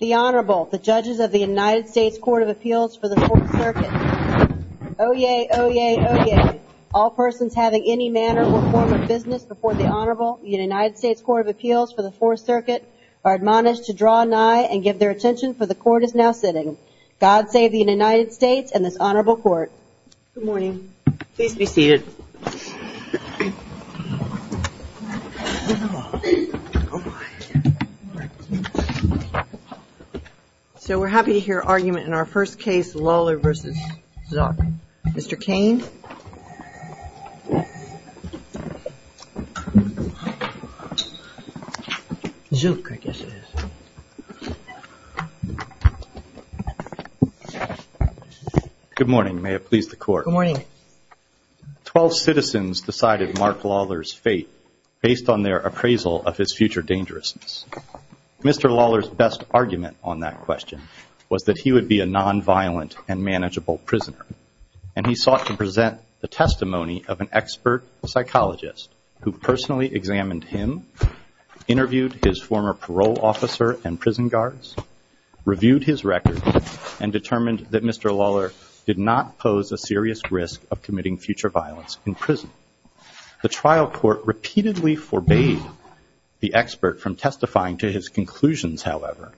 The Honorable, the Judges of the United States Court of Appeals for the Fourth Circuit. Oyez, oyez, oyez. All persons having any manner or form of business before the Honorable United States Court of Appeals for the Fourth Circuit are admonished to draw nigh and give their attention, for the Court is now sitting. God save the United States and this Honorable Court. Good morning. Please be seated. So we're happy to hear argument in our first case, Lawlor v. Zook. Mr. Cain. Zook, I guess it is. Good morning. May it please the Court. Good morning. Twelve citizens decided Mark Lawlor's fate based on their appraisal of his future dangerousness. Mr. Lawlor's best argument on that question was that he would be a nonviolent and manageable prisoner. And he sought to present the testimony of an expert psychologist who personally examined him, interviewed his former parole officer and prison guards, reviewed his record, and determined that Mr. Lawlor did not pose a serious risk of committing future violence in prison. The trial court repeatedly forbade the expert from testifying to his conclusions, however,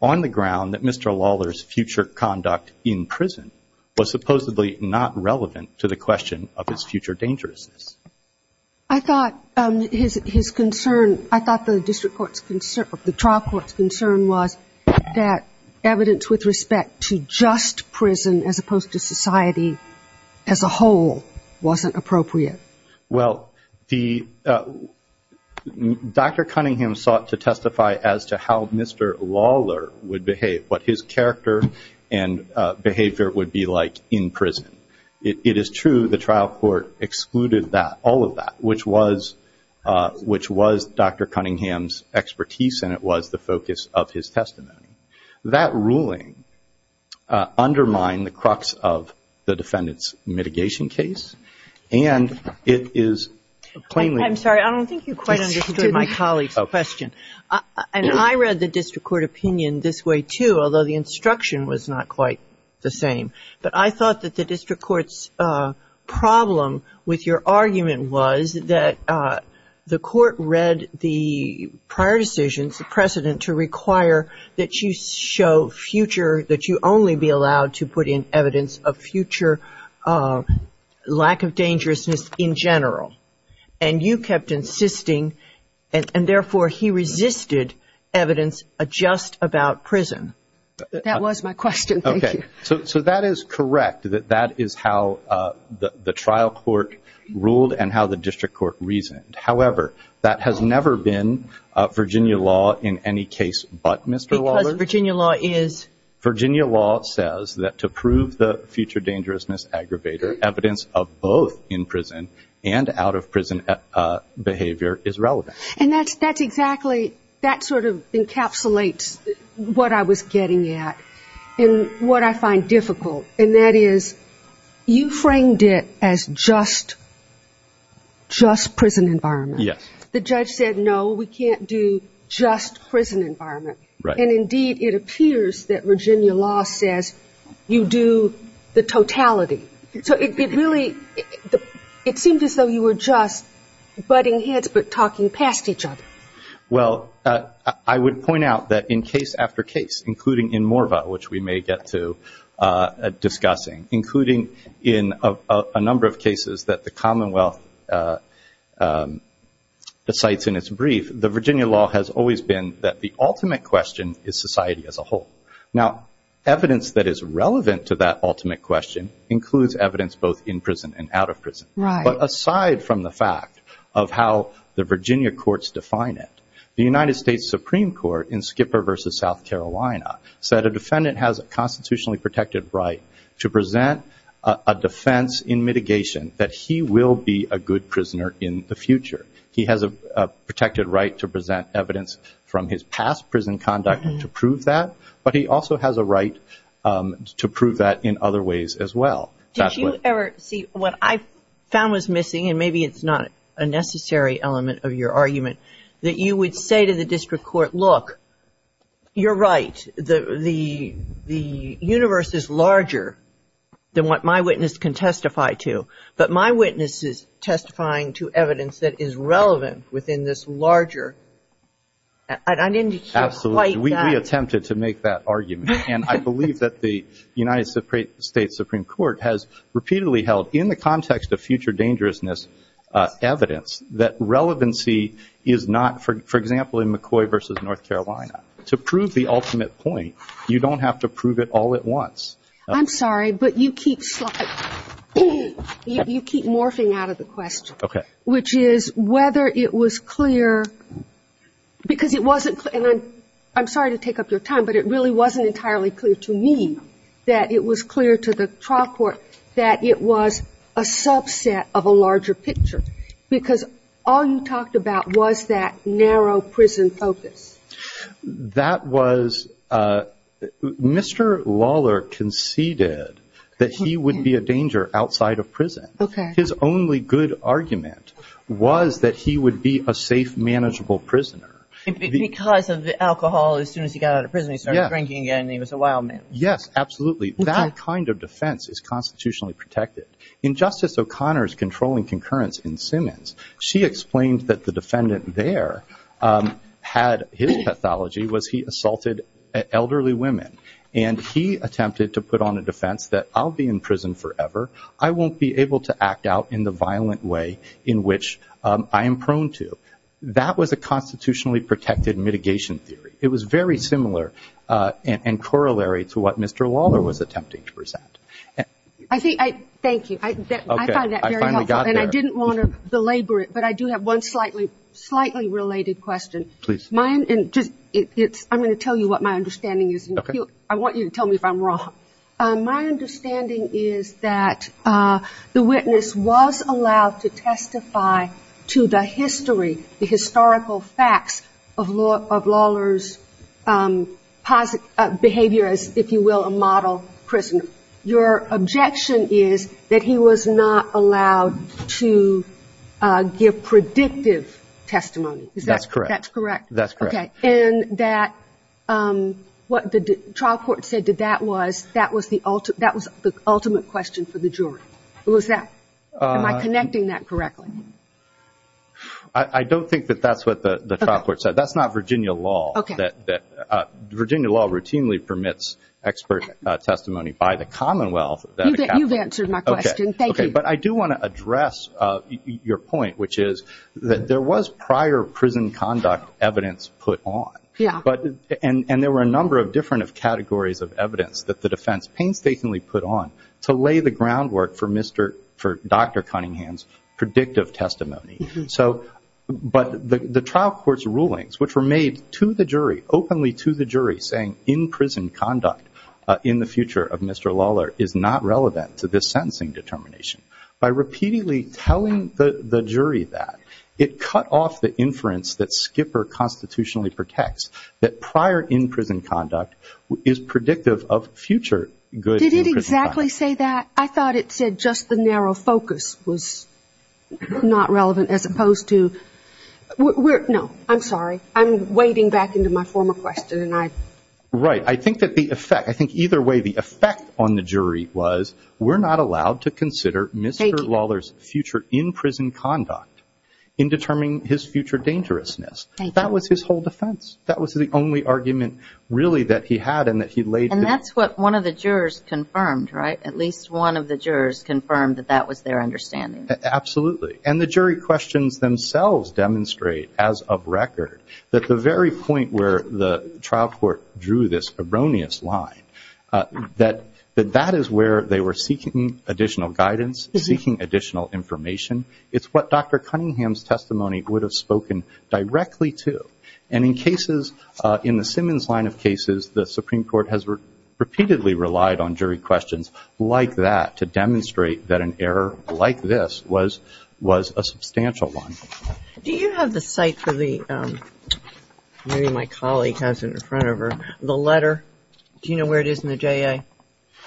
on the ground that Mr. Lawlor's future conduct in prison was supposedly not relevant to the question of his future dangerousness. I thought the trial court's concern was that evidence with respect to just prison as opposed to society as a whole wasn't appropriate. Well, Dr. Cunningham sought to testify as to how Mr. Lawlor would behave, what his character and behavior would be like in prison. It is true the trial court excluded that, all of that, which was Dr. Cunningham's expertise and it was the focus of his testimony. That ruling undermined the crux of the defendant's mitigation case, and it is plainly- I'm sorry. I don't think you quite understood my colleague's question. And I read the district court opinion this way, too, although the instruction was not quite the same. But I thought that the district court's problem with your argument was that the court read the prior decisions, the precedent to require that you show future, that you only be allowed to put in evidence of future lack of dangerousness in general. And you kept insisting, and therefore he resisted, evidence just about prison. That was my question. Okay. So that is correct, that that is how the trial court ruled and how the district court reasoned. However, that has never been Virginia law in any case but Mr. Lawlor's. Because Virginia law is- Virginia law says that to prove the future dangerousness aggravator, evidence of both in prison and out of prison behavior is relevant. And that's exactly, that sort of encapsulates what I was getting at. And what I find difficult, and that is you framed it as just prison environment. Yes. The judge said, no, we can't do just prison environment. Right. And, indeed, it appears that Virginia law says you do the totality. So it really, it seemed as though you were just butting heads but talking past each other. Well, I would point out that in case after case, including in Morva, which we may get to discussing, including in a number of cases that the Commonwealth cites in its brief, the Virginia law has always been that the ultimate question is society as a whole. Now, evidence that is relevant to that ultimate question includes evidence both in prison and out of prison. Right. But aside from the fact of how the Virginia courts define it, the United States Supreme Court in Skipper v. South Carolina said a defendant has a constitutionally protected right to present a defense in mitigation that he will be a good prisoner in the future. He has a protected right to present evidence from his past prison conduct to prove that, but he also has a right to prove that in other ways as well. Did you ever see what I found was missing, and maybe it's not a necessary element of your argument, that you would say to the district court, look, you're right, the universe is larger than what my witness can testify to, but my witness is testifying to evidence that is relevant within this larger. I didn't hear quite that. Absolutely. We attempted to make that argument. And I believe that the United States Supreme Court has repeatedly held, in the context of future dangerousness, evidence that relevancy is not, for example, in McCoy v. North Carolina. To prove the ultimate point, you don't have to prove it all at once. I'm sorry, but you keep morphing out of the question. Okay. Which is whether it was clear, because it wasn't clear, and I'm sorry to take up your time, but it really wasn't entirely clear to me that it was clear to the trial court that it was a subset of a larger picture, because all you talked about was that narrow prison focus. That was Mr. Lawler conceded that he would be a danger outside of prison. Okay. His only good argument was that he would be a safe, manageable prisoner. Because of the alcohol, as soon as he got out of prison, he started drinking again, and he was a wild man. Yes, absolutely. That kind of defense is constitutionally protected. In Justice O'Connor's controlling concurrence in Simmons, she explained that the defendant there had his pathology was he assaulted elderly women, and he attempted to put on a defense that I'll be in prison forever, I won't be able to act out in the violent way in which I am prone to. That was a constitutionally protected mitigation theory. It was very similar and corollary to what Mr. Lawler was attempting to present. Thank you. I find that very helpful, and I didn't want to belabor it, but I do have one slightly related question. Please. I'm going to tell you what my understanding is, and I want you to tell me if I'm wrong. My understanding is that the witness was allowed to testify to the history, the historical facts of Lawler's behavior as, if you will, a model prisoner. Your objection is that he was not allowed to give predictive testimony. That's correct. That's correct? That's correct. Okay, and that what the trial court said to that was that was the ultimate question for the jury. Am I connecting that correctly? I don't think that that's what the trial court said. That's not Virginia law. Virginia law routinely permits expert testimony by the Commonwealth. You've answered my question. Thank you. But I do want to address your point, which is that there was prior prison conduct evidence put on, and there were a number of different categories of evidence that the defense painstakingly put on to lay the groundwork for Dr. Cunningham's predictive testimony. But the trial court's rulings, which were made to the jury, openly to the jury, saying in-prison conduct in the future of Mr. Lawler is not relevant to this sentencing determination. By repeatedly telling the jury that, it cut off the inference that Skipper constitutionally protects, that prior in-prison conduct is predictive of future good in-prison conduct. Did it exactly say that? I thought it said just the narrow focus was not relevant as opposed to no, I'm sorry. I'm wading back into my former question. Right. I think that the effect, I think either way the effect on the jury was we're not allowed to consider Mr. Lawler's future in-prison conduct in determining his future dangerousness. Thank you. That was his whole defense. That was the only argument really that he had and that he laid. And that's what one of the jurors confirmed, right? At least one of the jurors confirmed that that was their understanding. Absolutely. And the jury questions themselves demonstrate, as of record, that the very point where the trial court drew this erroneous line, that that is where they were seeking additional guidance, seeking additional information. It's what Dr. Cunningham's testimony would have spoken directly to. And in cases, in the Simmons line of cases, the Supreme Court has repeatedly relied on jury questions like that to demonstrate that an error like this was a substantial one. Do you have the site for the, maybe my colleague has it in front of her, the letter? Do you know where it is in the JA?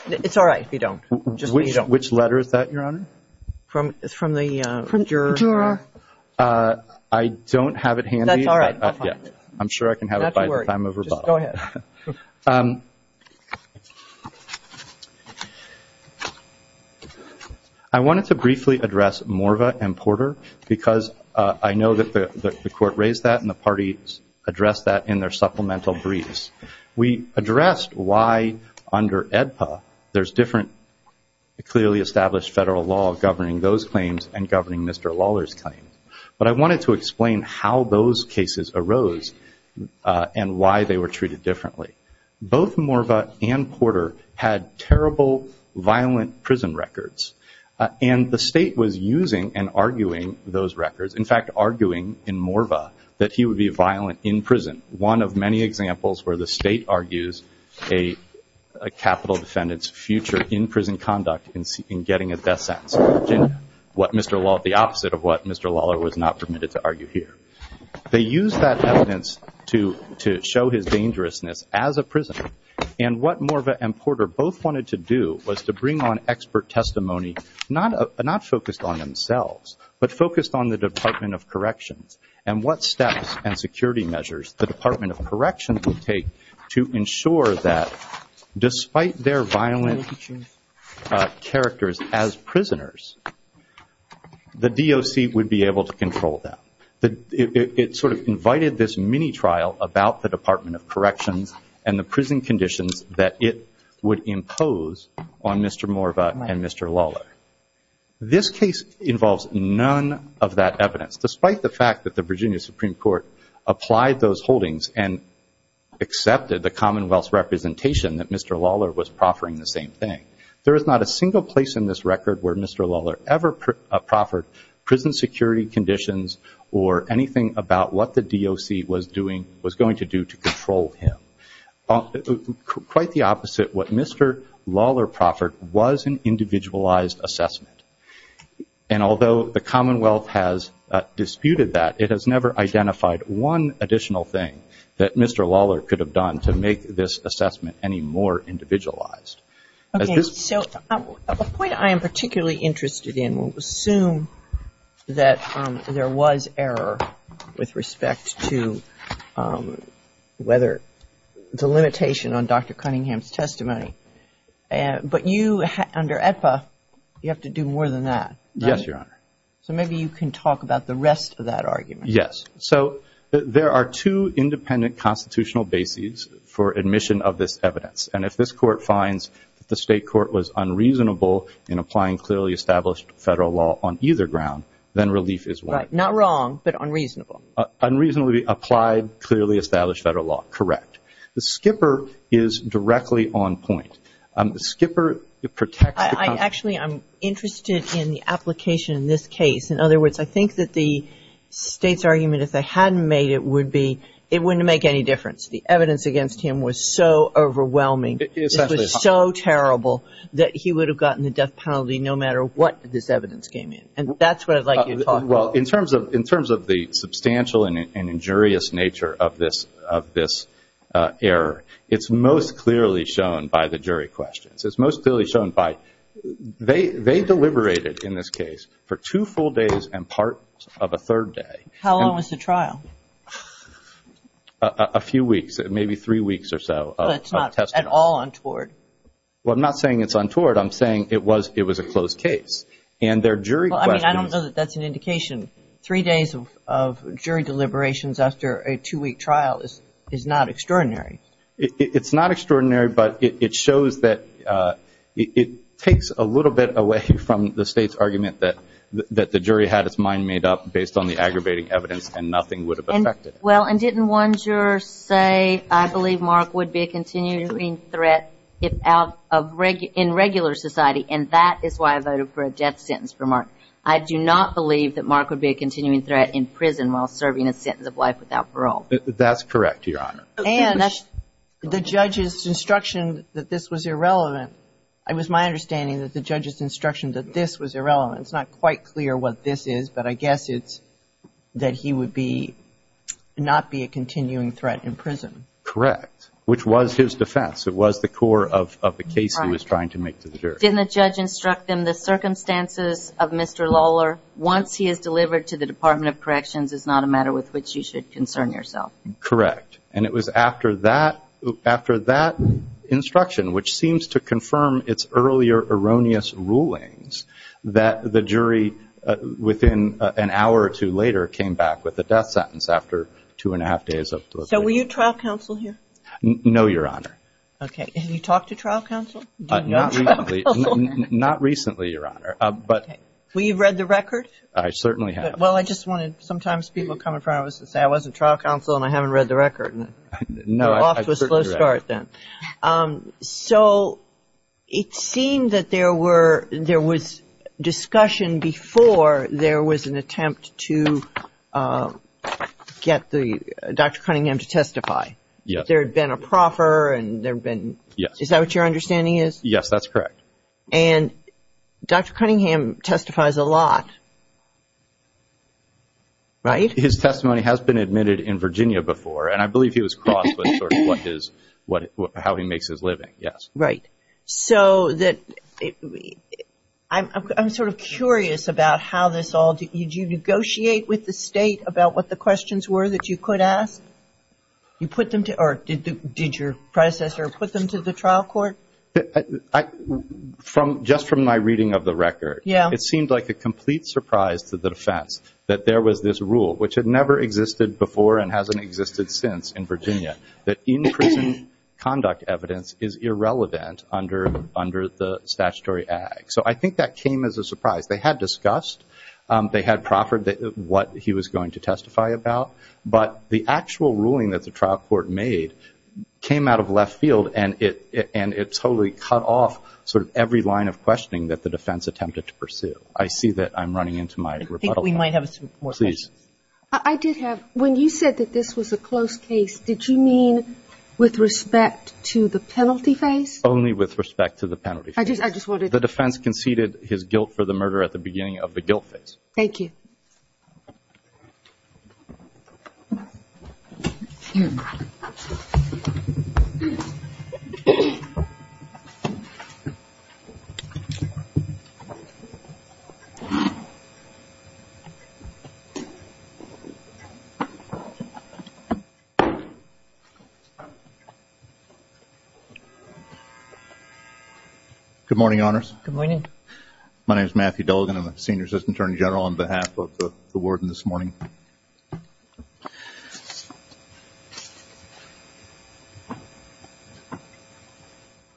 It's all right if you don't. Which letter is that, Your Honor? It's from the juror. I don't have it handy. That's all right. I'm sure I can have it by the time of rebuttal. Just go ahead. I wanted to briefly address Morva and Porter because I know that the court raised that and the parties addressed that in their supplemental briefs. We addressed why, under AEDPA, there's different clearly established federal law governing those claims and governing Mr. Lawler's claims. But I wanted to explain how those cases arose and why they were treated differently. Both Morva and Porter had terrible, violent prison records. And the state was using and arguing those records, in fact, arguing in Morva that he would be violent in prison. One of many examples where the state argues a capital defendant's future in prison conduct in getting a death sentence, the opposite of what Mr. Lawler was not permitted to argue here. They used that evidence to show his dangerousness as a prisoner. And what Morva and Porter both wanted to do was to bring on expert testimony, not focused on themselves, but focused on the Department of Corrections and what steps and security measures the Department of Corrections would take to ensure that, despite their violent characters as prisoners, the DOC would be able to control them. It sort of invited this mini-trial about the Department of Corrections and the prison conditions that it would impose on Mr. Morva and Mr. Lawler. This case involves none of that evidence, despite the fact that the Virginia Supreme Court applied those holdings and accepted the Commonwealth's representation that Mr. Lawler was proffering the same thing. There is not a single place in this record where Mr. Lawler ever proffered prison security conditions or anything about what the DOC was going to do to control him. Quite the opposite, what Mr. Lawler proffered was an individualized assessment. And although the Commonwealth has disputed that, it has never identified one additional thing that Mr. Lawler could have done to make this assessment any more individualized. Okay, so a point I am particularly interested in, we'll assume that there was error with respect to whether the limitation on Dr. Cunningham's testimony. But you, under EPA, you have to do more than that, right? Yes, Your Honor. So maybe you can talk about the rest of that argument. Yes. So there are two independent constitutional bases for admission of this evidence. And if this Court finds that the State Court was unreasonable in applying clearly established federal law on either ground, then relief is what? Right. Not wrong, but unreasonable. Unreasonably applied, clearly established federal law. Correct. The skipper is directly on point. The skipper protects the Congress. Actually, I'm interested in the application in this case. In other words, I think that the State's argument, if they hadn't made it, would be it wouldn't make any difference. The evidence against him was so overwhelming, so terrible, that he would have gotten the death penalty no matter what this evidence came in. And that's what I'd like you to talk about. Well, in terms of the substantial and injurious nature of this error, it's most clearly shown by the jury questions. It's most clearly shown by they deliberated in this case for two full days and part of a third day. How long was the trial? A few weeks, maybe three weeks or so. But it's not at all untoward. Well, I'm not saying it's untoward. I'm saying it was a closed case. And their jury questions. Well, I mean, I don't know that that's an indication. Three days of jury deliberations after a two-week trial is not extraordinary. It's not extraordinary, but it shows that it takes a little bit away from the State's argument that the jury had its mind made up based on the aggravating evidence and nothing would have affected it. Well, and didn't one juror say, I believe Mark would be a continuing threat in regular society, and that is why I voted for a death sentence for Mark. I do not believe that Mark would be a continuing threat in prison while serving a sentence of life without parole. That's correct, Your Honor. And the judge's instruction that this was irrelevant, it was my understanding that the judge's instruction that this was irrelevant, it's not quite clear what this is, but I guess it's that he would not be a continuing threat in prison. Correct, which was his defense. It was the core of the case he was trying to make to the jury. Didn't the judge instruct them, the circumstances of Mr. Lawler, once he is delivered to the Department of Corrections, is not a matter with which you should concern yourself? Correct. And it was after that instruction, which seems to confirm its earlier erroneous rulings, that the jury within an hour or two later came back with a death sentence after two and a half days. So were you trial counsel here? No, Your Honor. Okay. Have you talked to trial counsel? Not recently, Your Honor. Okay. Were you read the record? I certainly have. Well, I just wanted sometimes people come in front of us and say, I wasn't trial counsel and I haven't read the record. Off to a slow start then. So it seemed that there was discussion before there was an attempt to get Dr. Cunningham to testify. Yes. There had been a proffer and there had been – Yes. Is that what your understanding is? Yes, that's correct. And Dr. Cunningham testifies a lot, right? His testimony has been admitted in Virginia before, and I believe he was crossed with sort of how he makes his living, yes. Right. So I'm sort of curious about how this all – did you negotiate with the state about what the questions were that you could ask? Did your predecessor put them to the trial court? Just from my reading of the record, it seemed like a complete surprise to the defense that there was this rule, which had never existed before and hasn't existed since in Virginia, that in-prison conduct evidence is irrelevant under the statutory act. So I think that came as a surprise. They had discussed, they had proffered what he was going to testify about, but the actual ruling that the trial court made came out of left field and it totally cut off sort of every line of questioning that the defense attempted to pursue. I see that I'm running into my rebuttal. I think we might have some more questions. Please. I did have – when you said that this was a close case, did you mean with respect to the penalty phase? Only with respect to the penalty phase. I just wanted – The defense conceded his guilt for the murder at the beginning of the guilt phase. Thank you. Thank you. Good morning, Honors. Good morning. My name is Matthew Dolgan. I'm a senior assistant attorney general on behalf of the warden this morning.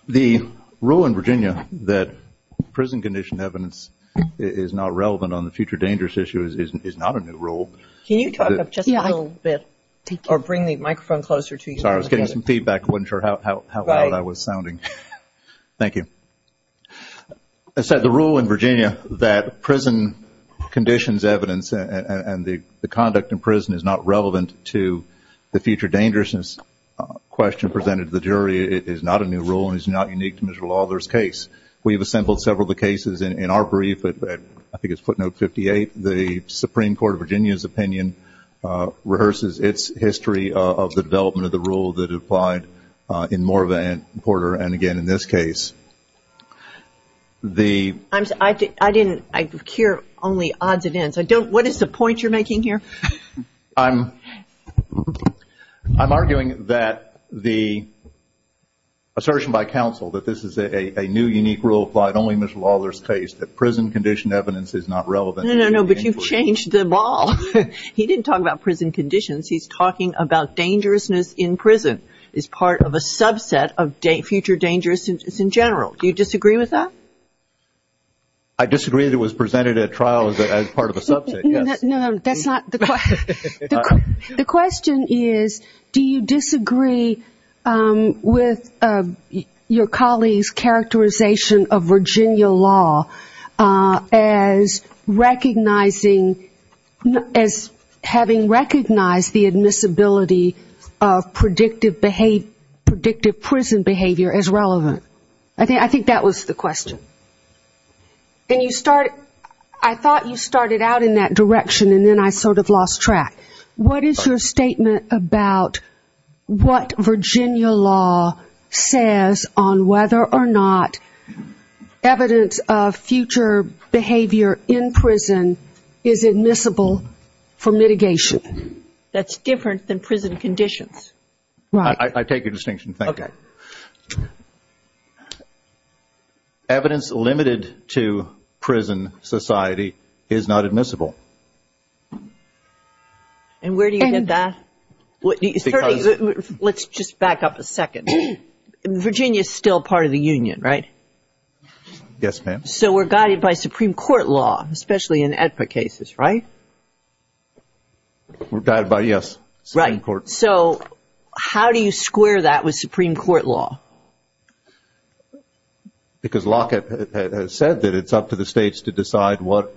The rule in Virginia that prison condition evidence is not relevant on the future dangerous issue is not a new rule. Can you talk just a little bit or bring the microphone closer to you? Sorry, I was getting some feedback. I wasn't sure how loud I was sounding. Thank you. As I said, the rule in Virginia that prison conditions evidence and the conduct in prison is not relevant to the future dangerous question presented to the jury is not a new rule and is not unique to Mr. Lawler's case. We've assembled several of the cases in our brief. I think it's footnote 58. The Supreme Court of Virginia's opinion rehearses its history of the development of the rule that applied in Moore v. Porter and, again, in this case. I hear only odds and ends. What is the point you're making here? I'm arguing that the assertion by counsel that this is a new unique rule applied only in Mr. Lawler's case, that prison condition evidence is not relevant. No, no, no, but you've changed the ball. He didn't talk about prison conditions. He's talking about dangerousness in prison as part of a subset of future dangerousness in general. Do you disagree with that? I disagree that it was presented at trial as part of a subset, yes. No, that's not the question. The question is, do you disagree with your colleague's characterization of Virginia law as recognizing, as having recognized the admissibility of predictive prison behavior as relevant? I think that was the question. I thought you started out in that direction, and then I sort of lost track. What is your statement about what Virginia law says on whether or not evidence of future behavior in prison is admissible for mitigation? That's different than prison conditions. I take your distinction. Thank you. Evidence limited to prison society is not admissible. And where do you get that? Let's just back up a second. Virginia is still part of the union, right? Yes, ma'am. So we're guided by Supreme Court law, especially in AEDPA cases, right? We're guided by, yes, Supreme Court. So how do you square that with Supreme Court law? Because Lockett has said that it's up to the states to decide what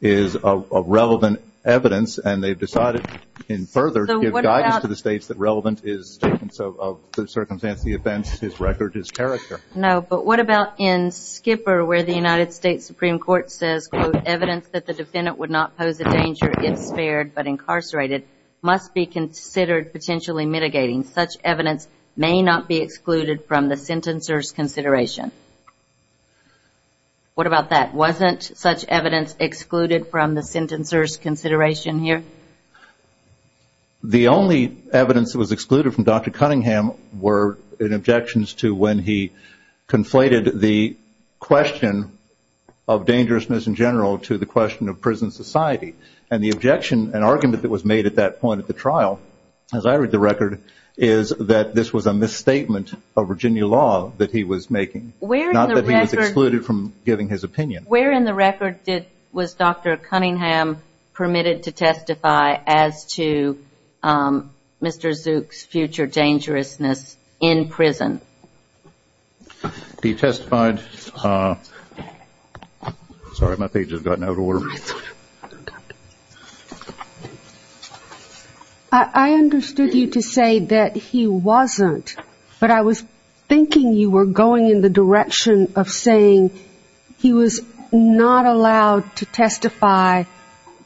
is of relevant evidence, and they've decided in further to give guidance to the states that relevant is statements of the circumstance, the events, his record, his character. No, but what about in Skipper where the United States Supreme Court says, quote, evidence that the defendant would not pose a danger if spared but incarcerated must be considered potentially mitigating. Such evidence may not be excluded from the sentencer's consideration. What about that? Wasn't such evidence excluded from the sentencer's consideration here? The only evidence that was excluded from Dr. Cunningham were in objections to when he conflated the question of dangerousness in general to the question of prison society. And the objection and argument that was made at that point at the trial, as I read the record, is that this was a misstatement of Virginia law that he was making, not that he was excluded from giving his opinion. Where in the record was Dr. Cunningham permitted to testify as to Mr. Zook's future dangerousness in prison? He testified. Sorry, my page has gotten out of order. I understood you to say that he wasn't, but I was thinking you were going in the direction of saying he was not allowed to testify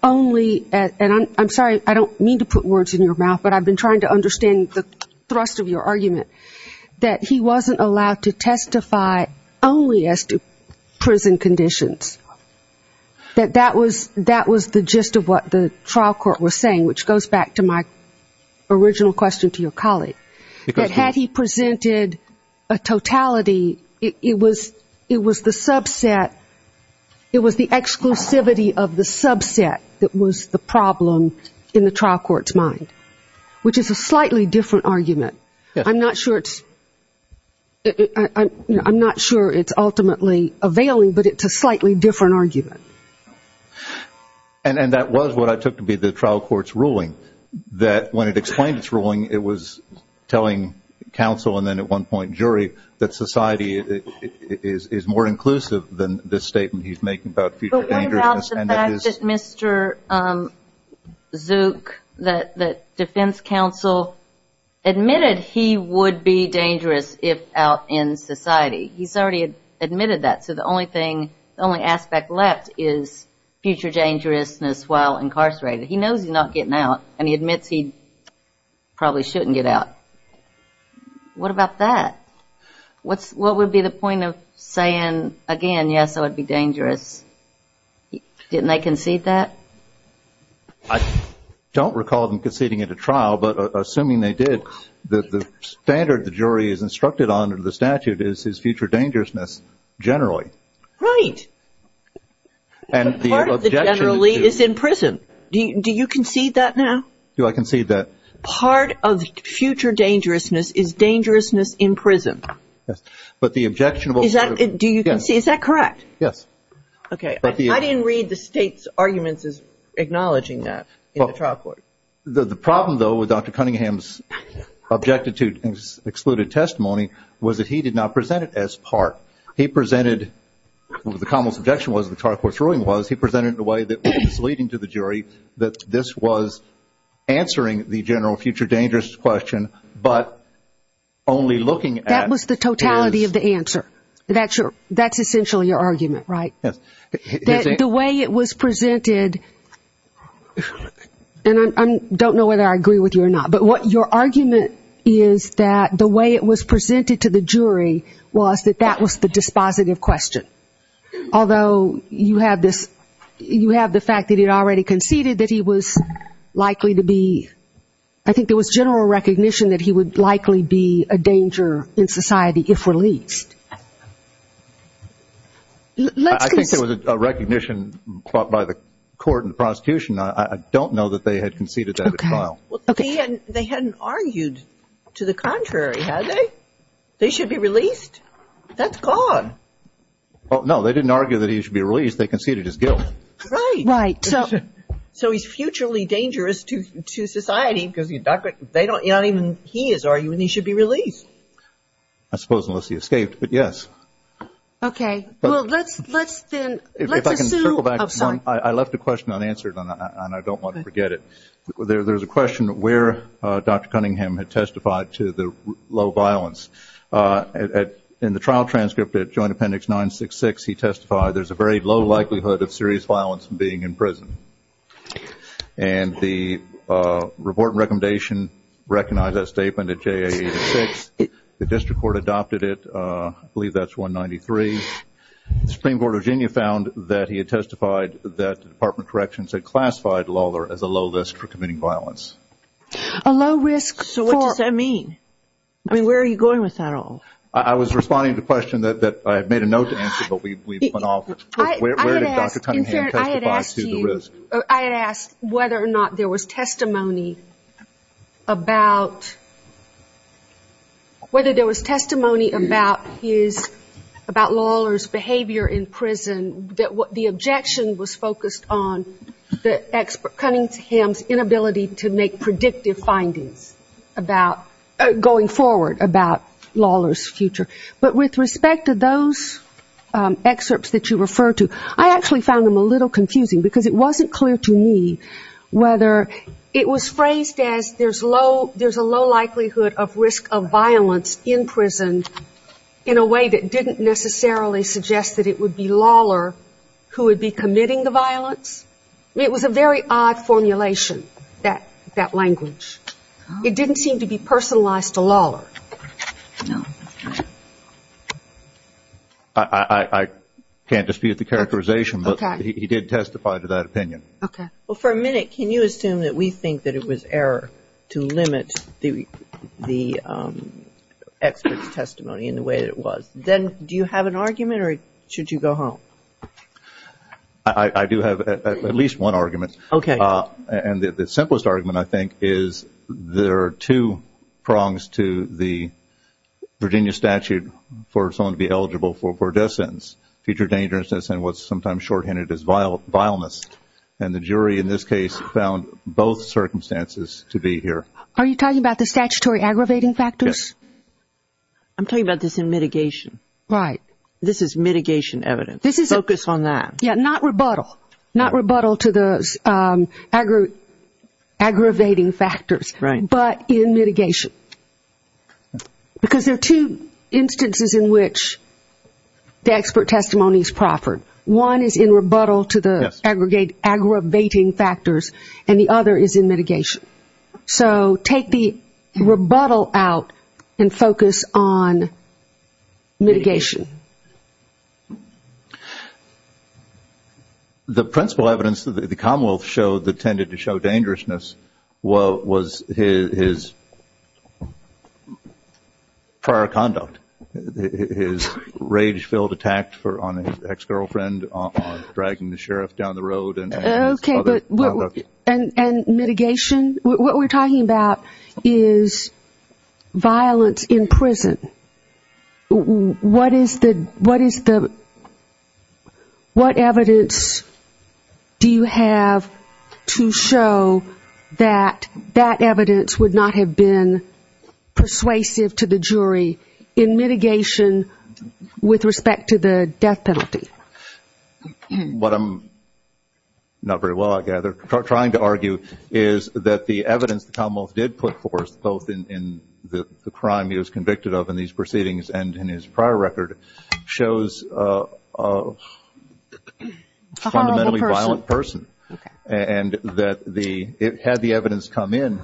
only, and I'm sorry, I don't mean to put words in your mouth, but I've been trying to understand the thrust of your argument, that he wasn't allowed to testify only as to prison conditions. That that was the gist of what the trial court was saying, which goes back to my original question to your colleague. That had he presented a totality, it was the subset, it was the exclusivity of the subset that was the problem in the trial court's mind, which is a slightly different argument. I'm not sure it's ultimately availing, but it's a slightly different argument. And that was what I took to be the trial court's ruling, that when it explained its ruling it was telling counsel, and then at one point jury, that society is more inclusive than this statement he's making about future dangerousness. But what about the fact that Mr. Zook, that defense counsel admitted he would be dangerous if out in society? He's already admitted that, so the only aspect left is future dangerousness while incarcerated. He knows he's not getting out, and he admits he probably shouldn't get out. What about that? What would be the point of saying again, yes, I would be dangerous? Didn't they concede that? I don't recall them conceding at a trial, but assuming they did, the standard the jury is instructed on under the statute is his future dangerousness generally. Right. Part of the generally is in prison. Do you concede that now? Do I concede that? Part of future dangerousness is dangerousness in prison. Yes, but the objectionable... Do you concede? Yes. Is that correct? Yes. Okay. I didn't read the state's arguments as acknowledging that in the trial court. The problem, though, with Dr. Cunningham's objected to and excluded testimony was that he did not present it as part. He presented the common subjection was the trial court's ruling was he presented it in a way that was misleading to the jury that this was answering the general future dangerous question, but only looking at... That was the totality of the answer. That's essentially your argument, right? Yes. The way it was presented, and I don't know whether I agree with you or not, but what your argument is that the way it was presented to the jury was that that was the dispositive question, although you have the fact that he had already conceded that he was likely to be... I think there was general recognition that he would likely be a danger in society if released. I think there was a recognition by the court and the prosecution. I don't know that they had conceded that at trial. Well, they hadn't argued to the contrary, had they? They should be released? That's gone. No, they didn't argue that he should be released. They conceded his guilt. Right. Right. So he's futurely dangerous to society because they don't even, he is arguing he should be released. I suppose unless he escaped, but yes. Okay. Well, let's then, let's assume... If I can circle back, I left a question unanswered, and I don't want to forget it. There's a question where Dr. Cunningham had testified to the low violence. In the trial transcript at Joint Appendix 966, he testified, there's a very low likelihood of serious violence from being in prison. And the report and recommendation recognized that statement at JA 86. The district court adopted it. I believe that's 193. The Supreme Court of Virginia found that he had testified that the Department of Corrections had classified Lawler as a low risk for committing violence. A low risk for? So what does that mean? I mean, where are you going with that all? I was responding to a question that I had made a note to answer, but we've gone off. Where did Dr. Cunningham testify to the risk? I had asked whether or not there was testimony about, whether there was testimony about his, about Lawler's behavior in prison, that the objection was focused on Cunningham's inability to make predictive findings about going forward about Lawler's future. But with respect to those excerpts that you refer to, I actually found them a little confusing, because it wasn't clear to me whether it was phrased as there's low, there's a low likelihood of risk of violence in prison in a way that didn't necessarily suggest that it would be Lawler who would be committing the violence. It was a very odd formulation, that language. It didn't seem to be personalized to Lawler. I can't dispute the characterization, but he did testify to that opinion. Okay. Well, for a minute, can you assume that we think that it was error to limit the expert's testimony in the way that it was? Then do you have an argument, or should you go home? I do have at least one argument. Okay. And the simplest argument, I think, is there are two prongs to the Virginia statute for someone to be eligible for a death sentence, future dangerousness, and what's sometimes shorthanded as vileness. And the jury in this case found both circumstances to be here. Are you talking about the statutory aggravating factors? Yes. I'm talking about this in mitigation. Right. This is mitigation evidence. Focus on that. Yeah, not rebuttal. Not rebuttal to the aggravating factors, but in mitigation. Because there are two instances in which the expert testimony is proffered. One is in rebuttal to the aggravating factors, and the other is in mitigation. So take the rebuttal out and focus on mitigation. The principal evidence that the Commonwealth showed that tended to show dangerousness was his prior conduct, his rage-filled attack on his ex-girlfriend, dragging the sheriff down the road. Okay. And mitigation? What we're talking about is violence in prison. What is the – what evidence do you have to show that that evidence would not have been persuasive to the jury in mitigation with respect to the death penalty? What I'm – not very well, I gather – trying to argue is that the evidence the Commonwealth did put forth, both in the crime he was convicted of in these proceedings and in his prior record, shows a fundamentally violent person. Okay. And that the – had the evidence come in,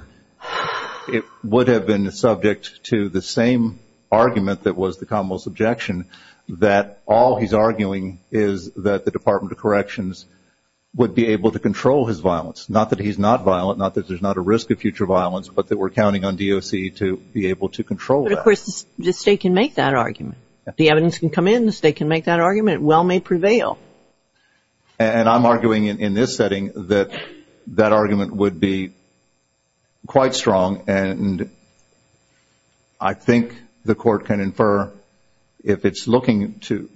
it would have been subject to the same argument that was the Commonwealth's objection, that all he's arguing is that the Department of Corrections would be able to control his violence. Not that he's not violent, not that there's not a risk of future violence, but that we're counting on DOC to be able to control that. But, of course, the State can make that argument. If the evidence can come in, the State can make that argument. Well may prevail. And I'm arguing in this setting that that argument would be quite strong, and I think the Court can infer if it's looking to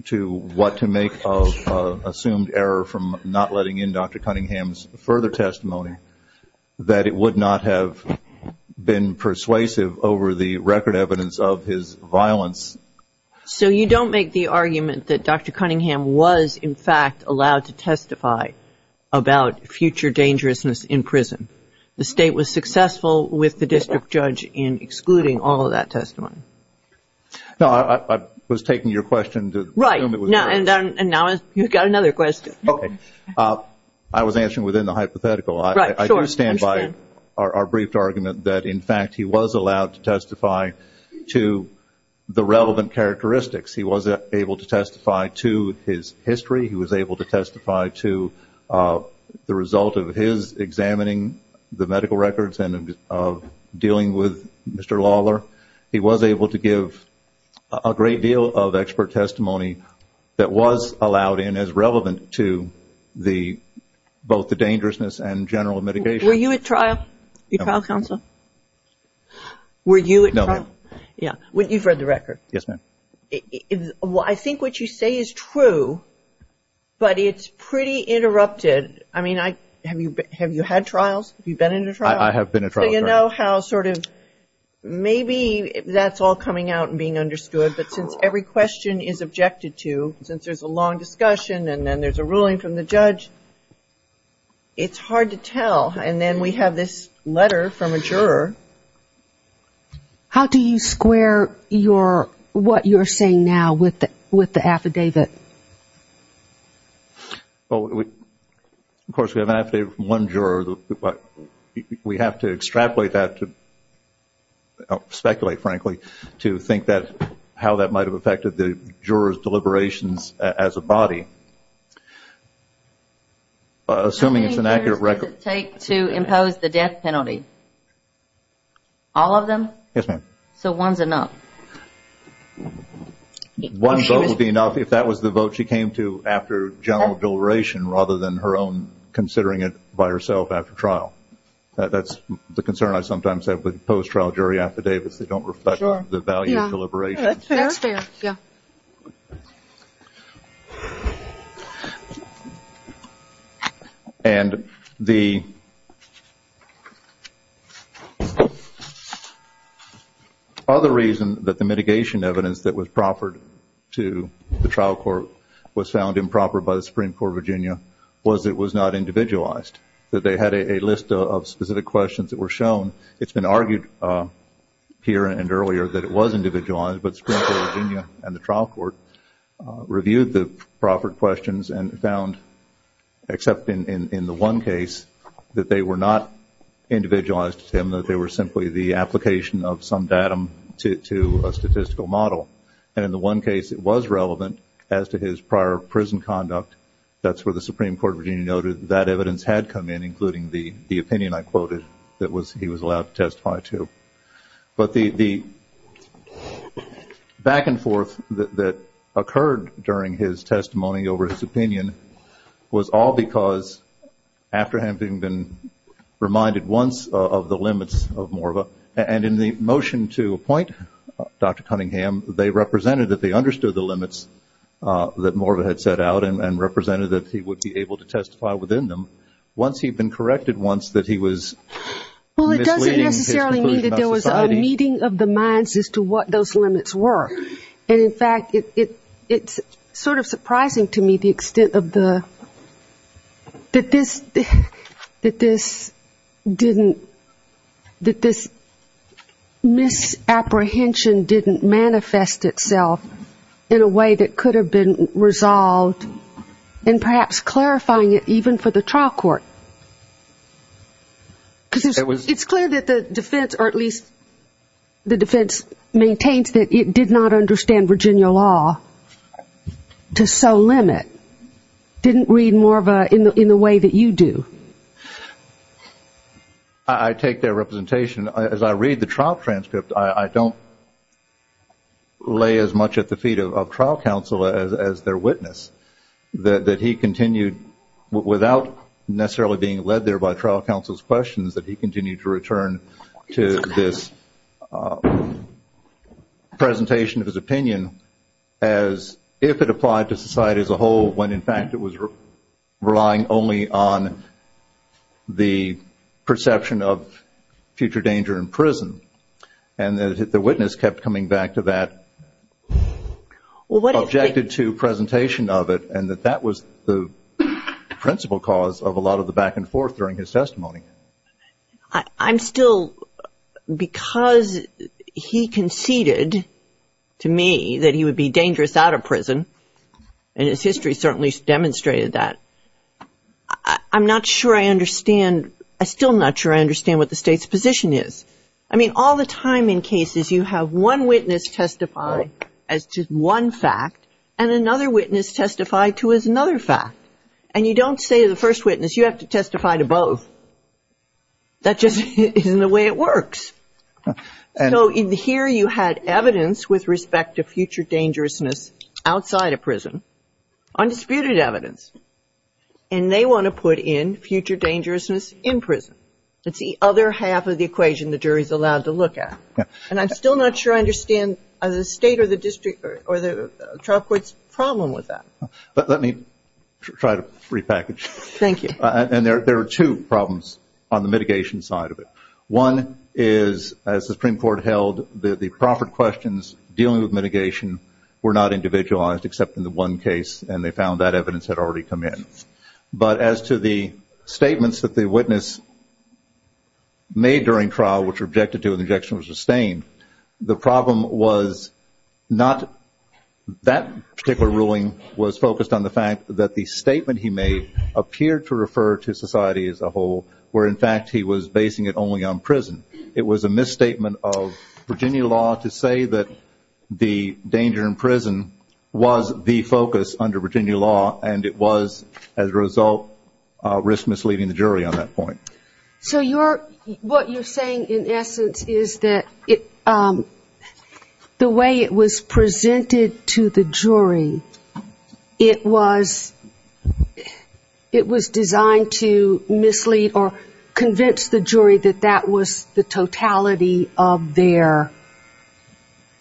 what to make of assumed error from not letting in Dr. Cunningham's further testimony, that it would not have been persuasive over the record evidence of his violence. So you don't make the argument that Dr. Cunningham was, in fact, allowed to testify about future dangerousness in prison. The State was successful with the district judge in excluding all of that testimony. No, I was taking your question to assume it was yours. Right. And now you've got another question. Okay. I was answering within the hypothetical. Right. Sure. I do stand by our brief argument that, in fact, he was allowed to testify to the relevant characteristics. He was able to testify to his history. He was able to testify to the result of his examining the medical records and of dealing with Mr. Lawler. He was able to give a great deal of expert testimony that was allowed in as relevant to both the dangerousness and general mitigation. Were you at trial, your trial counsel? No. Were you at trial? No, ma'am. Yeah. You've read the record. Yes, ma'am. I think what you say is true, but it's pretty interrupted. I mean, have you had trials? Have you been in a trial? I have been in a trial. So you know how sort of maybe that's all coming out and being understood, but since every question is objected to, since there's a long discussion and then there's a ruling from the judge, it's hard to tell. And then we have this letter from a juror. How do you square what you're saying now with the affidavit? Of course, we have an affidavit from one juror. We have to extrapolate that, speculate, frankly, to think how that might have affected the juror's deliberations as a body. Assuming it's an accurate record. How long does it take to impose the death penalty? All of them? Yes, ma'am. So one's enough? One vote would be enough if that was the vote she came to after general deliberation rather than her own considering it by herself after trial. That's the concern I sometimes have with post-trial jury affidavits. They don't reflect the value of deliberation. That's fair. That's fair, yeah. And the other reason that the mitigation evidence that was proffered to the trial court was found improper by the Supreme Court of Virginia was it was not individualized, that they had a list of specific questions that were shown. It's been argued here and earlier that it was individualized, but the Supreme Court of Virginia and the trial court reviewed the proffered questions and found, except in the one case, that they were not individualized to him, that they were simply the application of some datum to a statistical model. And in the one case it was relevant as to his prior prison conduct. That's where the Supreme Court of Virginia noted that evidence had come in, including the opinion I quoted that he was allowed to testify to. But the back and forth that occurred during his testimony over his opinion was all because, after having been reminded once of the limits of Morva, and in the motion to appoint Dr. Cunningham, they represented that they understood the limits that Morva had set out and represented that he would be able to testify within them. And once he'd been corrected once, that he was misleading his conclusion about society. Well, it doesn't necessarily mean that there was a meeting of the minds as to what those limits were. And, in fact, it's sort of surprising to me the extent of the, that this didn't, that this misapprehension didn't manifest itself in a way that could have been resolved, and perhaps clarifying it even for the trial court. Because it's clear that the defense, or at least the defense maintains, that it did not understand Virginia law to so limit, didn't read Morva in the way that you do. I take their representation. As I read the trial transcript, I don't lay as much at the feet of trial counsel as their witness. That he continued, without necessarily being led there by trial counsel's questions, that he continued to return to this presentation of his opinion as if it applied to society as a whole, when in fact it was relying only on the perception of future danger in prison. And the witness kept coming back to that, objected to presentation of it, and that that was the principal cause of a lot of the back and forth during his testimony. I'm still, because he conceded to me that he would be dangerous out of prison, and his history certainly demonstrated that. I'm not sure I understand, I'm still not sure I understand what the state's position is. I mean, all the time in cases you have one witness testify as to one fact, and another witness testify to another fact. And you don't say to the first witness, you have to testify to both. That just isn't the way it works. So here you had evidence with respect to future dangerousness outside of prison, undisputed evidence. And they want to put in future dangerousness in prison. It's the other half of the equation the jury is allowed to look at. And I'm still not sure I understand the state or the district or the trial court's problem with that. Let me try to repackage. Thank you. And there are two problems on the mitigation side of it. One is, as the Supreme Court held, the proffered questions dealing with mitigation were not individualized except in the one case, and they found that evidence had already come in. But as to the statements that the witness made during trial, which were objected to and the objection was sustained, the problem was not that particular ruling was focused on the fact that the statement he made appeared to refer to society as a whole, where in fact he was basing it only on prison. It was a misstatement of Virginia law to say that the danger in prison was the focus under Virginia law, and it was, as a result, risk misleading the jury on that point. So what you're saying, in essence, is that the way it was presented to the jury, it was designed to mislead or convince the jury that that was the totality of their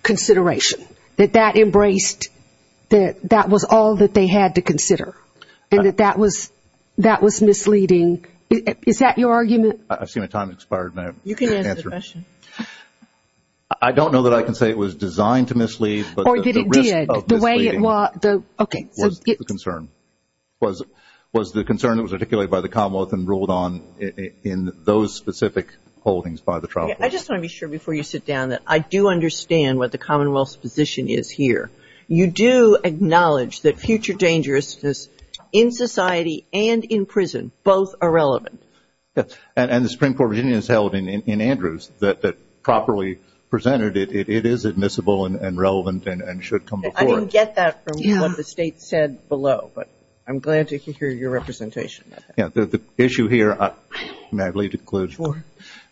consideration, that that embraced, that that was all that they had to consider, and that that was misleading. Is that your argument? I see my time has expired. You can answer the question. I don't know that I can say it was designed to mislead. Or that it did. The way it was. Okay. It was the concern. It was the concern that was articulated by the Commonwealth and ruled on in those specific holdings by the trial court. I just want to be sure before you sit down that I do understand what the Commonwealth's position is here. You do acknowledge that future dangerousness in society and in prison both are relevant. And the Supreme Court opinion is held in Andrews that properly presented it, it is admissible and relevant and should come before it. I didn't get that from what the State said below, but I'm glad to hear your representation. The issue here, may I leave the conclusion? Sure.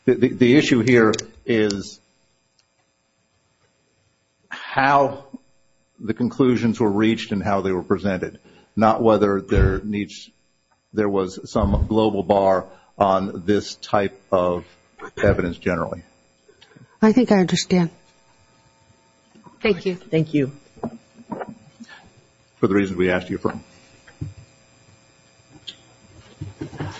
The issue here is how the conclusions were reached and how they were presented, not whether there was some global bar on this type of evidence generally. I think I understand. Thank you. Thank you. For the reasons we asked you for. Thank you.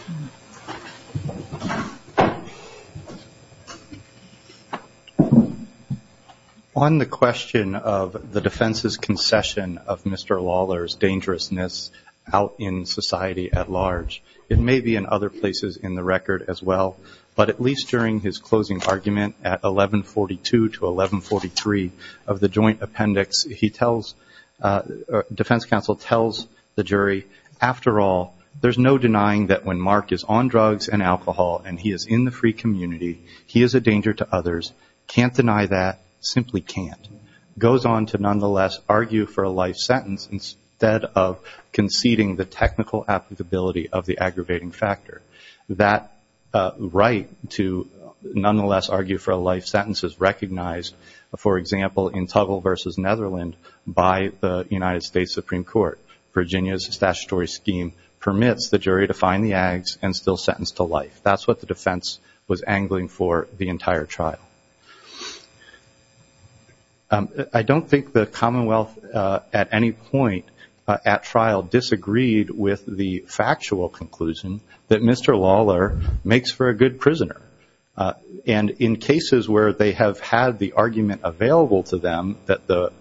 On the question of the defense's concession of Mr. Lawler's dangerousness out in society at large, it may be in other places in the record as well, but at least during his closing argument at 1142 to 1143 of the joint appendix, defense counsel tells the jury, after all there's no denying that when Mark is on drugs and alcohol and he is in the free community he is a danger to others, can't deny that, simply can't. Goes on to nonetheless argue for a life sentence instead of conceding the technical applicability of the aggravating factor. That right to nonetheless argue for a life sentence is recognized, for example, in Tuggle versus Netherlands by the United States Supreme Court. Virginia's statutory scheme permits the jury to find the ags and still sentence to life. That's what the defense was angling for the entire trial. I don't think the Commonwealth at any point at trial disagreed with the factual conclusion that Mr. Lawler makes for a good prisoner. And in cases where they have had the argument available to them that the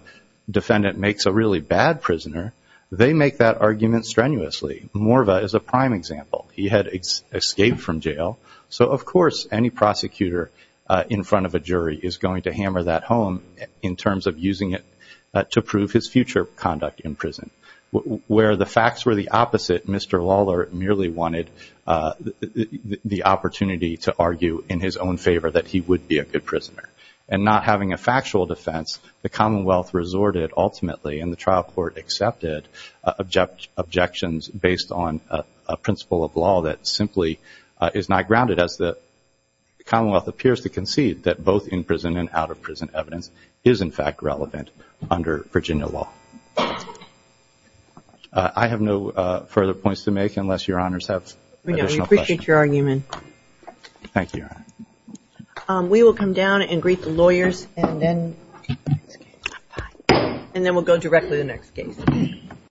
defendant makes a really bad prisoner, they make that argument strenuously. Morva is a prime example. He had escaped from jail, so of course any prosecutor in front of a jury is going to hammer that home in terms of using it to prove his future conduct in prison. Where the facts were the opposite, Mr. Lawler merely wanted the opportunity to argue in his own favor that he would be a good prisoner. And not having a factual defense, the Commonwealth resorted ultimately and the trial court accepted objections based on a principle of law that simply is not grounded, as the Commonwealth appears to concede that both in-prison and out-of-prison evidence is in fact relevant under Virginia law. I have no further points to make unless Your Honors have additional questions. We appreciate your argument. Thank you, Your Honor. We will come down and greet the lawyers and then we'll go directly to the next case.